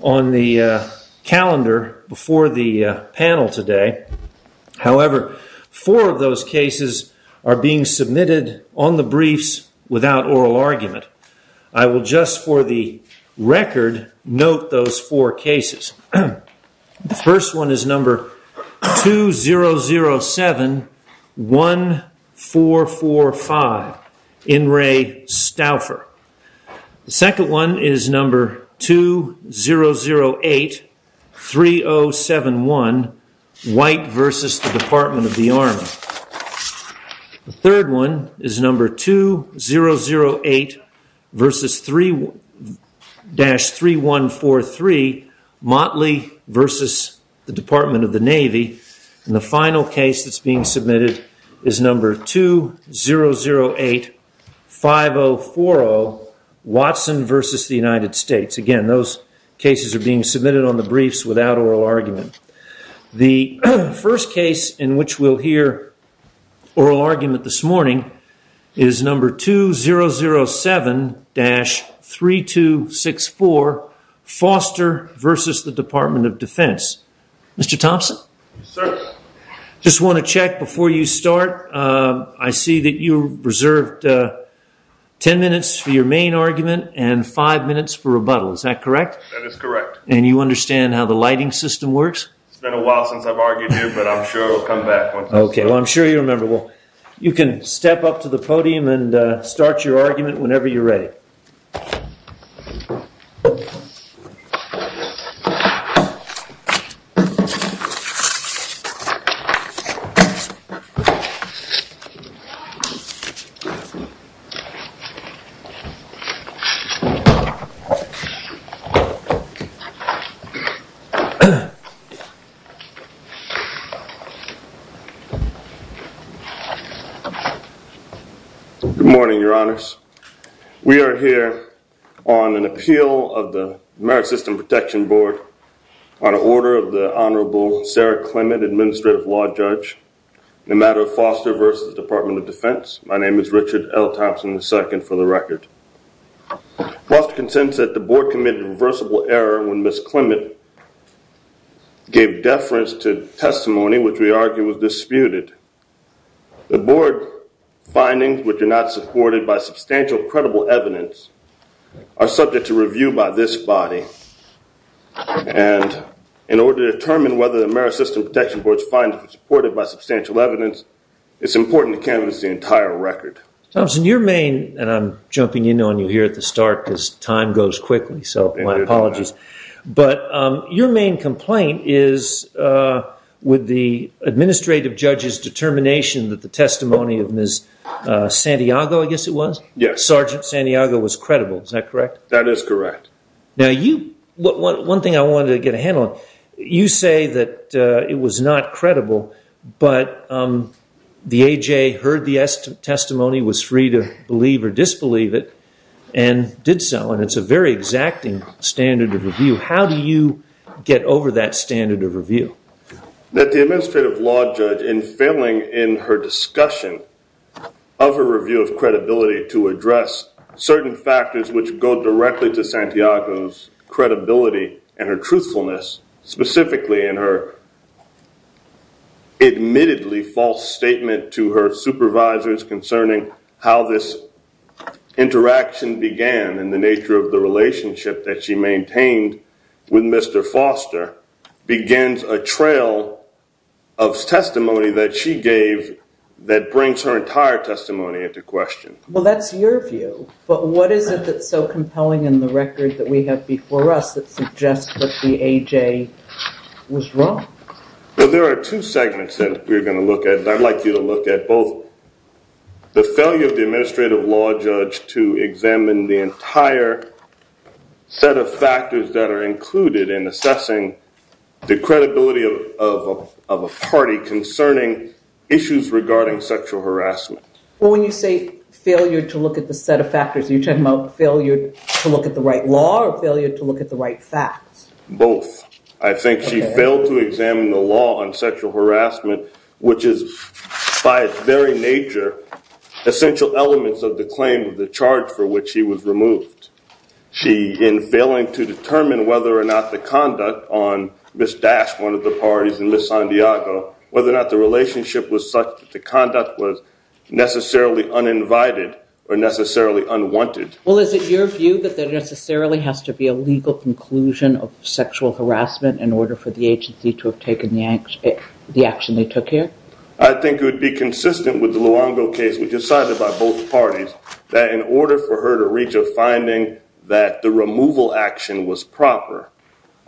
on the calendar before the panel today. However, four of those cases are being submitted on the briefs without oral argument. I will just, for the record, note those four cases. The first one is number 20071445, In re Stauffer. The second one is number 20083071, White v. Department of the Army. The third one is number 2008-3143, Motley v. Department of the Navy. And the final case that's being submitted is number 20085040, Watson v. The United States. Again, those cases are being submitted on the briefs without oral argument. The first case in which we'll hear oral argument this morning is number 2007-3264, Foster v. Department of Defense. Mr. Thompson? Yes, sir. I just want to check before you start. I see that you reserved ten minutes for your main argument and five minutes for rebuttal. Is that correct? That is correct. And you understand how the lighting system works? It's been a while since I've argued here, but I'm sure I'll come back. Okay, well, I'm sure you remember. You can step up to the podium and start your argument whenever you're ready. Good morning, Your Honors. We are here on an appeal of the Maritime System Protection Board on order of the Honorable Sarah Clement, Administrative Law Judge, in the matter of Foster v. Department of Defense. My name is Richard L. Thompson II, for the record. Foster consents that the Board committed a reversible error when Ms. Clement gave deference to testimony which we argue was disputed. The Board findings, which are not supported by substantial credible evidence, are subject to review by this body. And in order to determine whether the Maritime System Protection Board's findings are supported by substantial evidence, it's important to canvass the entire record. Thompson, your main, and I'm jumping in on you here at the start because time goes quickly, so my apologies. But your main complaint is with the administrative judge's determination that the testimony of Ms. Santiago, I guess it was? Yes. That Sergeant Santiago was credible, is that correct? That is correct. Now you, one thing I wanted to get a handle on, you say that it was not credible, but the A.J. heard the testimony, was free to believe or disbelieve it, and did so. And it's a very exacting standard of review. How do you get over that standard of review? That the administrative law judge, in failing in her discussion of her review of credibility to address certain factors which go directly to Santiago's credibility and her truthfulness, specifically in her admittedly false statement to her supervisors concerning how this interaction began and the nature of the relationship that she maintained with Mr. Foster, begins a trail of testimony that she gave that brings her entire testimony into question. Well, that's your view. But what is it that's so compelling in the record that we have before us that suggests that the A.J. was wrong? Well, there are two segments that we're going to look at, and I'd like you to look at both the failure of the administrative law judge to examine the entire set of factors that are included in assessing the credibility of a party concerning issues regarding sexual harassment. Well, when you say failure to look at the set of factors, are you talking about failure to look at the right law or failure to look at the right facts? Both. I think she failed to examine the law on sexual harassment, which is by its very nature essential elements of the claim of the charge for which she was removed. In failing to determine whether or not the conduct on Ms. Dash, one of the parties, and Ms. Santiago, whether or not the relationship was such that the conduct was necessarily uninvited or necessarily unwanted. Well, is it your view that there necessarily has to be a legal conclusion of sexual harassment in order for the agency to have taken the action they took here? I think it would be consistent with the Luongo case. We decided by both parties that in order for her to reach a finding that the removal action was proper,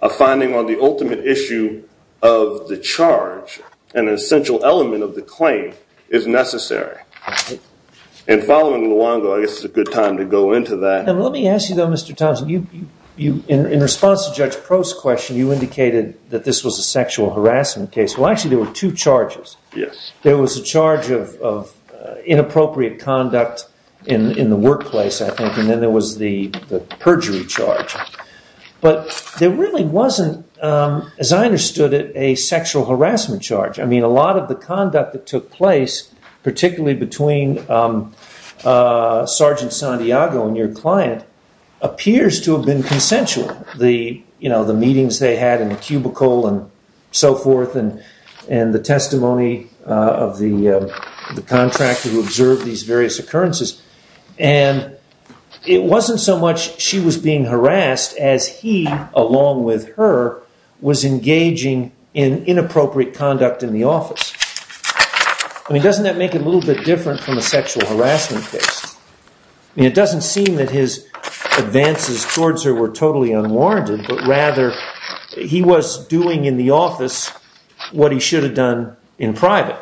a finding on the ultimate issue of the charge and an essential element of the claim is necessary. And following Luongo, I guess it's a good time to go into that. Let me ask you, though, Mr. Thompson, in response to Judge Prost's question, you indicated that this was a sexual harassment case. Well, actually, there were two charges. There was a charge of inappropriate conduct in the workplace, I think, and then there was the perjury charge. But there really wasn't, as I understood it, a sexual harassment charge. I mean, a lot of the conduct that took place, particularly between Sergeant Santiago and your client, appears to have been consensual. You know, the meetings they had in the cubicle and so forth and the testimony of the contractor who observed these various occurrences. And it wasn't so much she was being harassed as he, along with her, was engaging in inappropriate conduct in the office. I mean, doesn't that make it a little bit different from a sexual harassment case? I mean, it doesn't seem that his advances towards her were totally unwarranted, but rather he was doing in the office what he should have done in private.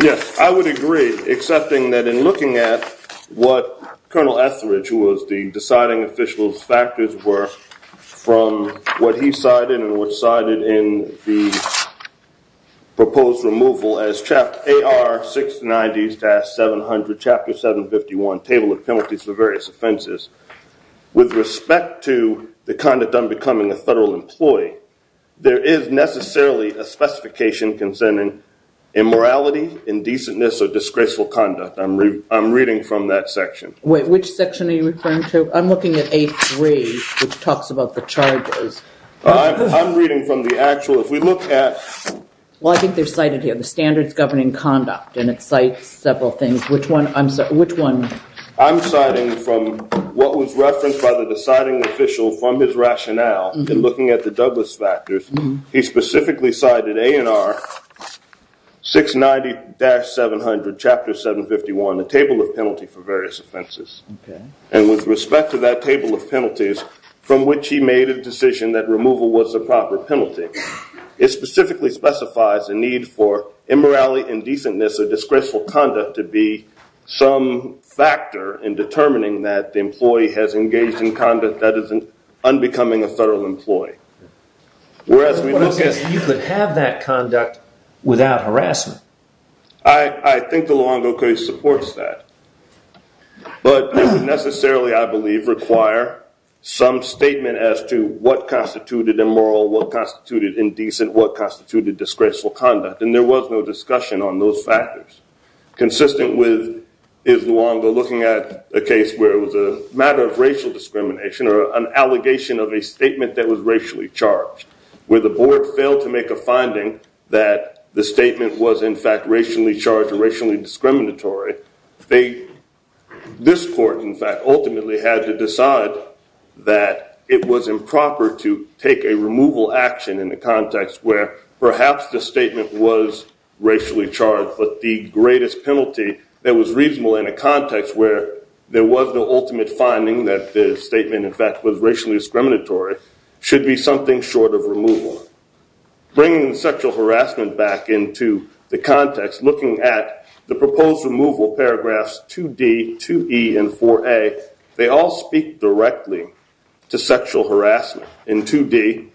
Yes, I would agree, accepting that in looking at what Colonel Etheridge, who was the deciding official's factors were from what he cited and what's cited in the proposed removal as AR-690-700, Chapter 751, Table of Penalties for Various Offenses, with respect to the conduct of becoming a federal employee, there is necessarily a specification concerning immorality, indecentness, or disgraceful conduct. I'm reading from that section. Wait, which section are you referring to? I'm looking at A-3, which talks about the charges. I'm reading from the actual. If we look at... Well, I think they're cited here, the standards governing conduct, and it cites several things. Which one? I'm citing from what was referenced by the deciding official from his rationale in looking at the Douglas factors. He specifically cited A&R-690-700, Chapter 751, the Table of Penalties for Various Offenses, and with respect to that Table of Penalties, from which he made a decision that removal was the proper penalty. It specifically specifies a need for immorality, indecentness, that is, unbecoming a federal employee. You could have that conduct without harassment. I think the Luongo case supports that. But it would necessarily, I believe, require some statement as to what constituted immoral, what constituted indecent, what constituted disgraceful conduct, and there was no discussion on those factors. Consistent with his Luongo looking at a case where it was a matter of racial discrimination or an allegation of a statement that was racially charged, where the board failed to make a finding that the statement was, in fact, racially charged or racially discriminatory, this court, in fact, ultimately had to decide that it was improper to take a removal action in the context where perhaps the statement was racially charged but the greatest penalty that was reasonable in a context where there was no ultimate finding that the statement, in fact, was racially discriminatory should be something short of removal. Bringing sexual harassment back into the context, looking at the proposed removal paragraphs 2D, 2E, and 4A, they all speak directly to sexual harassment. In 2D,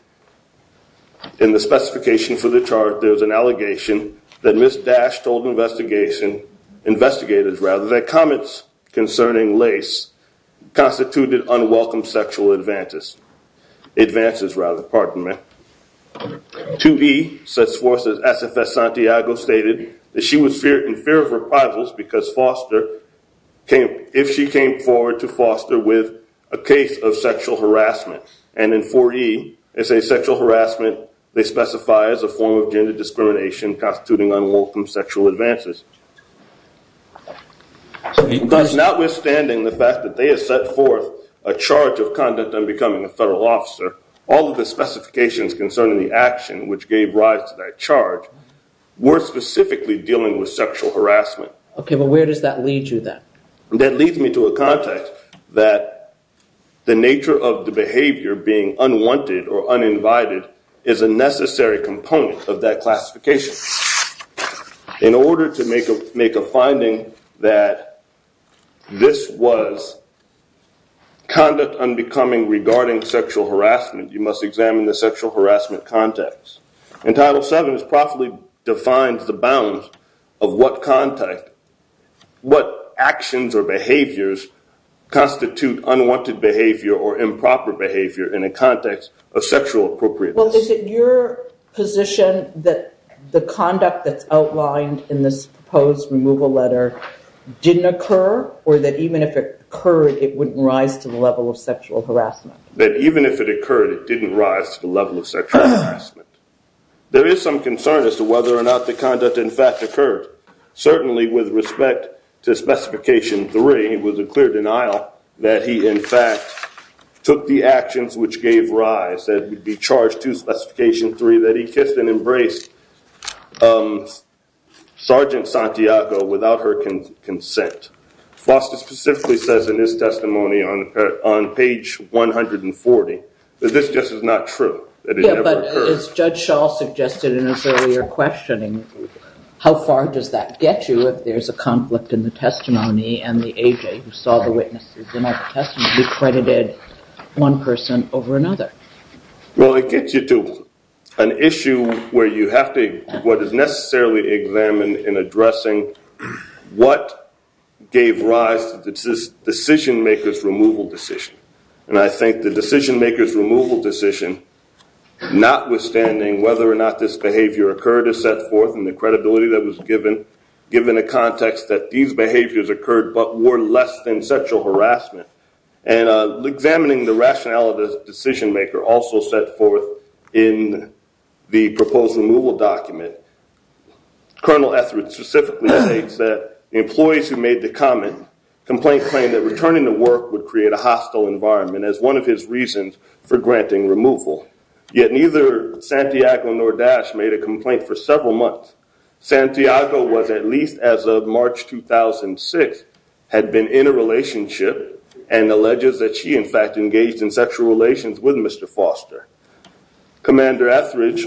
in the specification for the charge, there's an allegation that Ms. Dash told investigators that comments concerning Lace constituted unwelcome sexual advances. 2E says SFS Santiago stated that she was in fear of reprisals because if she came forward to foster with a case of sexual harassment, and in 4E, they say sexual harassment, they specify as a form of gender discrimination constituting unwelcome sexual advances. Thus, notwithstanding the fact that they have set forth a charge of conduct on becoming a federal officer, all of the specifications concerning the action which gave rise to that charge were specifically dealing with sexual harassment. Okay, but where does that lead you, then? That leads me to a context that the nature of the behavior being unwanted or uninvited is a necessary component of that classification. In order to make a finding that this was conduct on becoming regarding sexual harassment, you must examine the sexual harassment context. In Title VII, it's properly defined the bounds of what actions or behaviors constitute unwanted behavior or improper behavior in a context of sexual appropriateness. Well, is it your position that the conduct that's outlined in this proposed removal letter didn't occur, or that even if it occurred, it wouldn't rise to the level of sexual harassment? That even if it occurred, it didn't rise to the level of sexual harassment. There is some concern as to whether or not the conduct, in fact, occurred. Certainly with respect to Specification III, it was a clear denial that he, in fact, took the actions which gave rise, that he'd be charged to Specification III, that he kissed and embraced Sergeant Santiago without her consent. Foster specifically says in his testimony on page 140 that this just is not true, that it never occurred. Yeah, but as Judge Shaw suggested in his earlier questioning, how far does that get you if there's a conflict in the testimony and the A.J. who saw the witnesses in that testimony decredited one person over another? Well, it gets you to an issue where you have to, what is necessarily examined in addressing what gave rise to this decision-maker's removal decision. And I think the decision-maker's removal decision, notwithstanding whether or not this behavior occurred or set forth and the credibility that was given, given the context that these behaviors occurred but were less than sexual harassment, and examining the rationale of the decision-maker also set forth in the proposed removal document, Colonel Etheridge specifically states that the employees who made the comment complained that returning to work would create a hostile environment as one of his reasons for granting removal. Yet neither Santiago nor Dash made a complaint for several months. Santiago was, at least as of March 2006, had been in a relationship and alleges that she in fact engaged in sexual relations with Mr. Foster. Commander Etheridge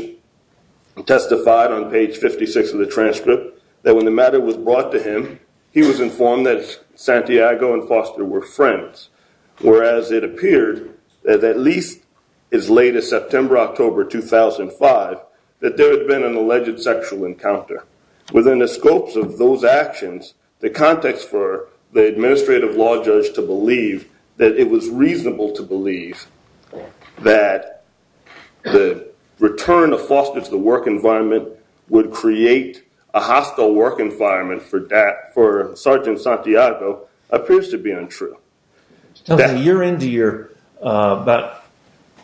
testified on page 56 of the transcript that when the matter was brought to him, he was informed that Santiago and Foster were friends, whereas it appeared that at least as late as September, October 2005, that there had been an alleged sexual encounter. Within the scopes of those actions, the context for the administrative law judge to believe that it was reasonable to believe that the return of Foster to the work environment would create a hostile work environment for Sergeant Santiago appears to be untrue. You're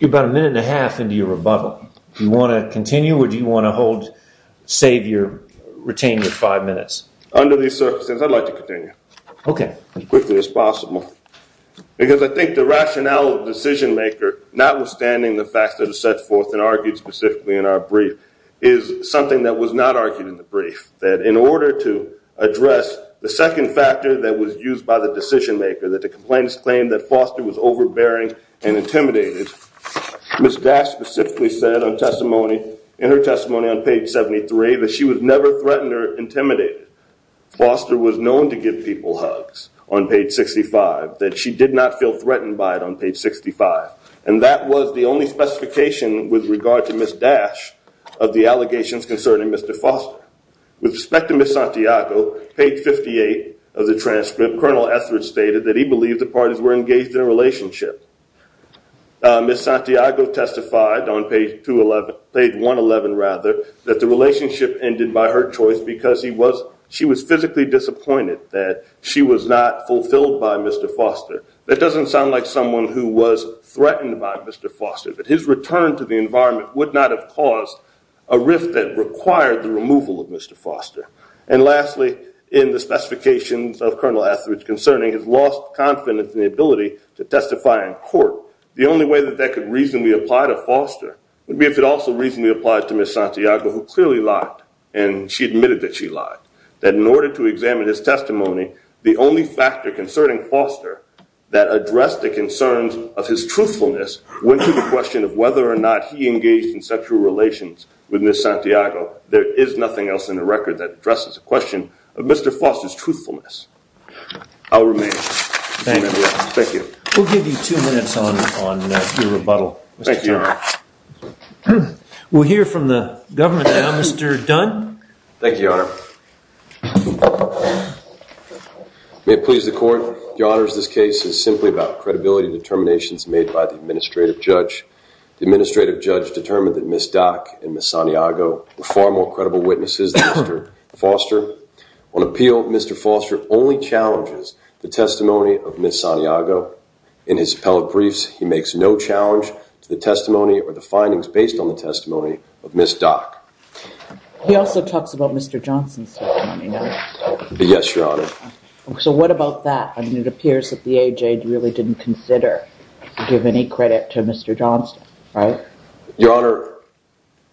about a minute and a half into your rebuttal. Do you want to continue or do you want to hold, save your, retain your five minutes? Under these circumstances, I'd like to continue. Okay. As quickly as possible. Because I think the rationale of the decision maker, notwithstanding the facts that are set forth and argued specifically in our brief, is something that was not argued in the brief, that in order to address the second factor that was used by the decision maker, that the complainants claimed that Foster was overbearing and intimidating, Ms. Dash specifically said on testimony, in her testimony on page 73, that she was never threatened or intimidated. Foster was known to give people hugs on page 65, that she did not feel threatened by it on page 65. And that was the only specification with regard to Ms. Dash of the allegations concerning Mr. Foster. With respect to Ms. Santiago, page 58 of the transcript, Colonel Etheridge stated that he believed the parties were engaged in a relationship. Ms. Santiago testified on page 111, that the relationship ended by her choice because she was physically disappointed that she was not fulfilled by Mr. Foster. That doesn't sound like someone who was threatened by Mr. Foster, but his return to the environment would not have caused a rift that required the removal of Mr. Foster. And lastly, in the specifications of Colonel Etheridge concerning his lost confidence in the ability to testify in court, the only way that that could reasonably apply to Foster would be if it also reasonably applied to Ms. Santiago, who clearly lied. And she admitted that she lied. That in order to examine his testimony, the only factor concerning Foster that addressed the concerns of his truthfulness went to the question of whether or not he engaged in sexual relations with Ms. Santiago. There is nothing else in the record that addresses the question of Mr. Foster's truthfulness. I'll remain. Thank you. We'll give you two minutes on your rebuttal, Mr. Chairman. Thank you, Your Honor. We'll hear from the government now. Mr. Dunn. Thank you, Your Honor. May it please the Court, Your Honors, this case is simply about credibility determinations made by the administrative judge. The administrative judge determined that Ms. Dock and Ms. Santiago were far more credible witnesses than Mr. Foster. On appeal, Mr. Foster only challenges the testimony of Ms. Santiago. In his appellate briefs, he makes no challenge to the testimony or the findings based on the testimony of Ms. Dock. He also talks about Mr. Johnson's testimony, doesn't he? Yes, Your Honor. So what about that? I mean, it appears that the A.J. really didn't consider to give any credit to Mr. Johnston, right? Your Honor,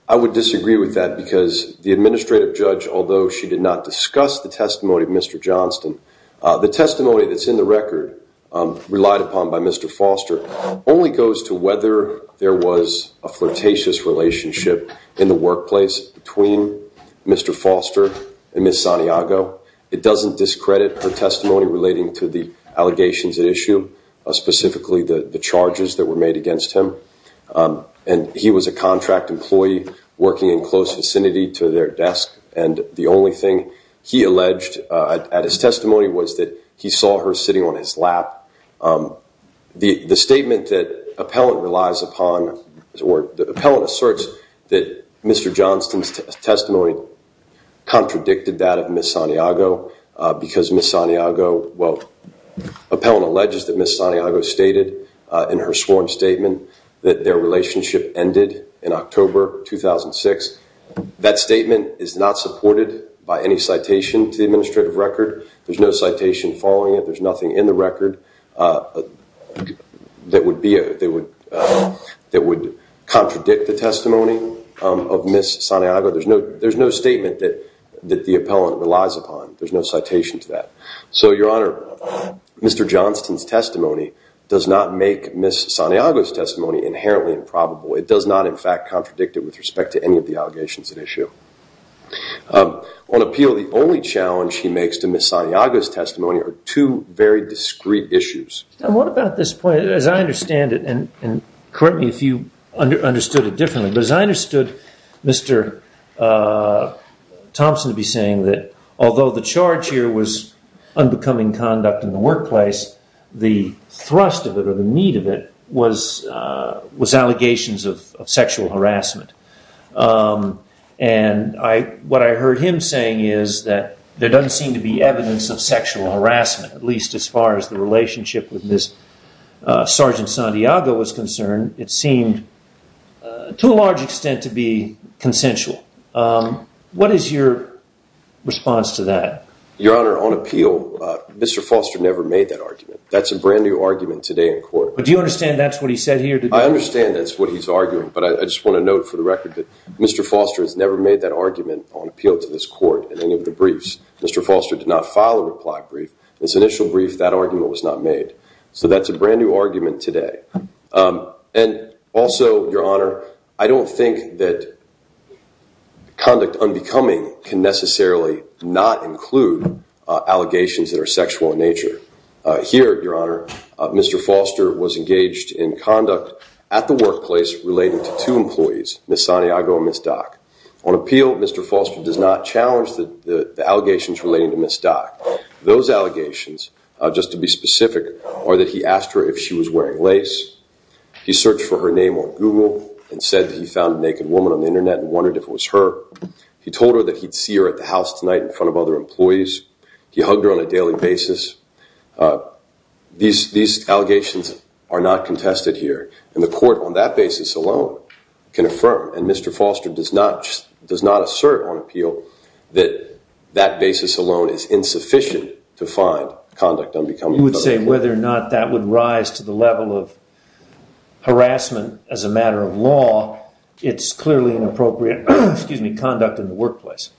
I would disagree with that because the administrative judge, although she did not discuss the testimony of Mr. Johnston, the testimony that's in the record, relied upon by Mr. Foster, only goes to whether there was a flirtatious relationship in the workplace between Mr. Foster and Ms. Santiago. It doesn't discredit her testimony relating to the allegations at issue, specifically the charges that were made against him. And he was a contract employee working in close vicinity to their desk, and the only thing he alleged at his testimony was that he saw her sitting on his lap. The statement that the appellant relies upon... The appellant asserts that Mr. Johnston's testimony contradicted that of Ms. Santiago because Ms. Santiago... Well, the appellant alleges that Ms. Santiago stated in her sworn statement that their relationship ended in October 2006. That statement is not supported by any citation to the administrative record. There's no citation following it. There's nothing in the record that would contradict the testimony of Ms. Santiago. There's no statement that the appellant relies upon. There's no citation to that. So, Your Honor, Mr. Johnston's testimony does not make Ms. Santiago's testimony inherently improbable. It does not, in fact, contradict it with respect to any of the allegations at issue. On appeal, the only challenge he makes to Ms. Santiago's testimony are two very discreet issues. And what about this point? As I understand it, and correct me if you understood it differently, but as I understood Mr. Thompson to be saying that although the charge here was unbecoming conduct in the workplace, the thrust of it or the meat of it was allegations of sexual harassment. And what I heard him saying is that there doesn't seem to be evidence of sexual harassment, at least as far as the relationship with Ms. Sergeant Santiago was concerned. It seemed, to a large extent, to be consensual. What is your response to that? Your Honor, on appeal, Mr. Foster never made that argument. That's a brand-new argument today in court. But do you understand that's what he said here? I understand that's what he's arguing, but I just want to note for the record that Mr. Foster has never made that argument on appeal to this court in any of the briefs. Mr. Foster did not file a reply brief. In his initial brief, that argument was not made. So that's a brand-new argument today. And also, Your Honor, I don't think that conduct unbecoming can necessarily not include allegations that are sexual in nature. Here, Your Honor, Mr. Foster was engaged in conduct at the workplace relating to two employees, Ms. Santiago and Ms. Dock. On appeal, Mr. Foster does not challenge the allegations relating to Ms. Dock. Those allegations, just to be specific, are that he asked her if she was wearing lace, he searched for her name on Google and said that he found a naked woman on the Internet and wondered if it was her, he told her that he'd see her at the house tonight in front of other employees, he hugged her on a daily basis. These allegations are not contested here. And the court, on that basis alone, can affirm. And Mr. Foster does not assert on appeal that that basis alone is insufficient to find conduct unbecoming. You would say whether or not that would rise to the level of harassment as a matter of law, it's clearly inappropriate conduct in the workplace.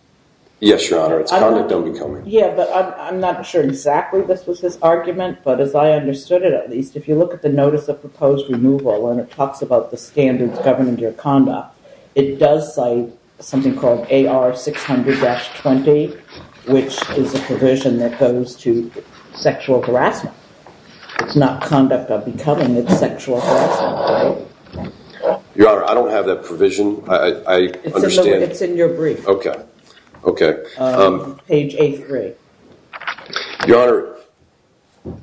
Yes, Your Honor, it's conduct unbecoming. Yeah, but I'm not sure exactly this was his argument, but as I understood it, at least, if you look at the notice of proposed removal and it talks about the standards governing your conduct, it does cite something called AR 600-20, which is a provision that goes to sexual harassment. It's not conduct unbecoming, it's sexual harassment, right? Your Honor, I don't have that provision. I understand... It's in your brief. Okay, okay. Page A3. Your Honor,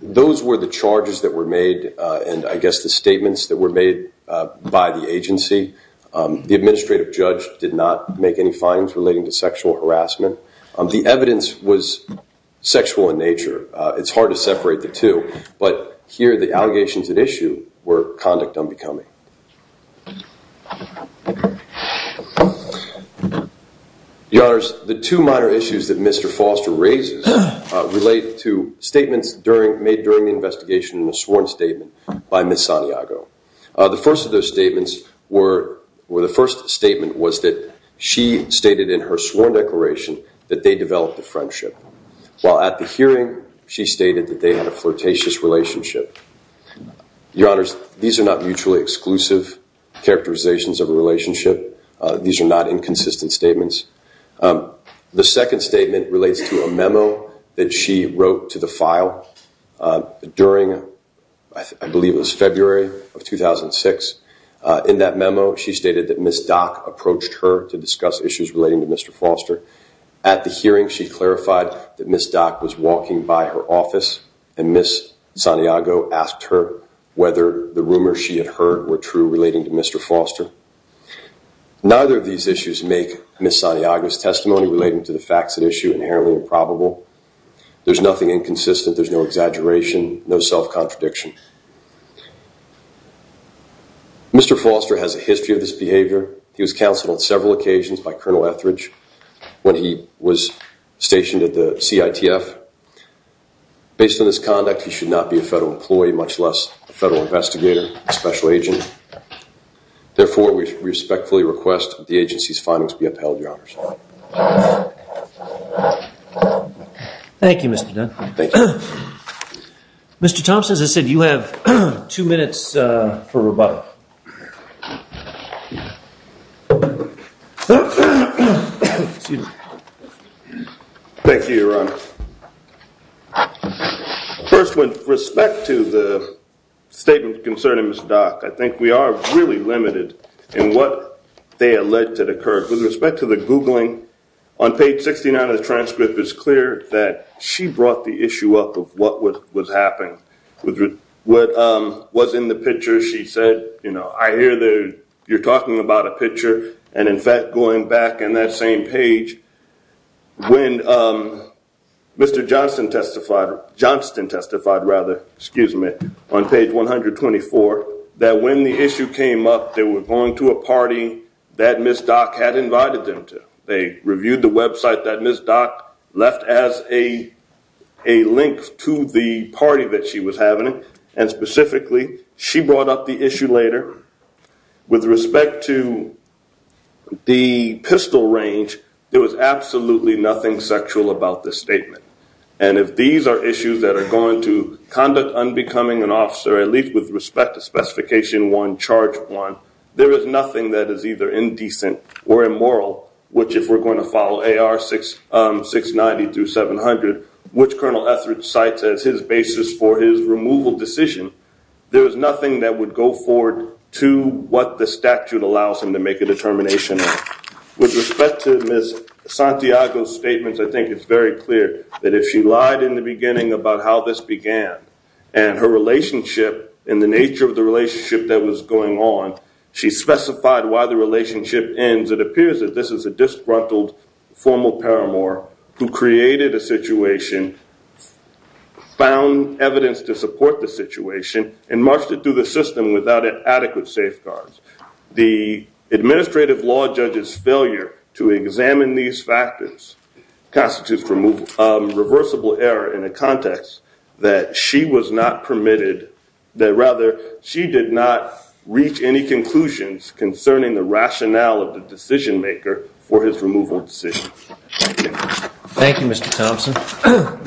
those were the charges that were made and, I guess, the statements that were made by the agency. The administrative judge did not make any findings relating to sexual harassment. The evidence was sexual in nature. It's hard to separate the two, but here the allegations at issue were conduct unbecoming. Your Honors, the two minor issues that Mr. Foster raises relate to statements made during the investigation in a sworn statement by Ms. Santiago. The first of those statements were... The first statement was that she stated in her sworn declaration that they developed a friendship, while at the hearing she stated that they had a flirtatious relationship. Your Honors, these are not mutually exclusive. These are not exclusive characterizations of a relationship. These are not inconsistent statements. The second statement relates to a memo that she wrote to the file during, I believe it was February of 2006. In that memo, she stated that Ms. Dock approached her to discuss issues relating to Mr. Foster. At the hearing, she clarified that Ms. Dock was walking by her office and Ms. Santiago asked her whether the rumors she had heard were true relating to Mr. Foster. Neither of these issues make Ms. Santiago's testimony relating to the facts at issue inherently improbable. There's nothing inconsistent. There's no exaggeration, no self-contradiction. Mr. Foster has a history of this behavior. He was counseled on several occasions by Colonel Etheridge when he was stationed at the CITF. Based on his conduct, he should not be a federal employee, much less a federal investigator, a special agent. Therefore, we respectfully request that the agency's findings be upheld, Your Honors. Thank you, Mr. Dunn. Thank you. Mr. Thompson, as I said, you have two minutes for rebuttal. Thank you, Your Honor. First, with respect to the statement concerning Ms. Dock, I think we are really limited in what they alleged had occurred. With respect to the Googling, on page 69 of the transcript, it's clear that she brought the issue up of what was happening. I hear you're talking about a picture. In fact, going back in that same page, when Mr. Johnston testified on page 124, that when the issue came up, they were going to a party that Ms. Dock had invited them to. They reviewed the website that Ms. Dock left as a link to the party that she was having, and specifically, she brought up the issue later. With respect to the pistol range, there was absolutely nothing sexual about this statement. And if these are issues that are going to conduct unbecoming an officer, at least with respect to Specification 1, Charge 1, there is nothing that is either indecent or immoral, which if we're going to follow AR 690 through 700, which Colonel Etheridge cites as his basis for his removal decision, there is nothing that would go forward to what the statute allows him to make a determination on. With respect to Ms. Santiago's statements, I think it's very clear that if she lied in the beginning about how this began, and her relationship, and the nature of the relationship that was going on, she specified why the relationship ends, it appears that this is a disgruntled formal paramour who and marched it through the system without adequate safeguards. The administrative law judge's failure to examine these factors constitutes a reversible error in a context that she was not permitted, that rather, she did not reach any conclusions concerning the rationale of the decision maker for his removal decision. Thank you. Thank you, Mr. Thompson.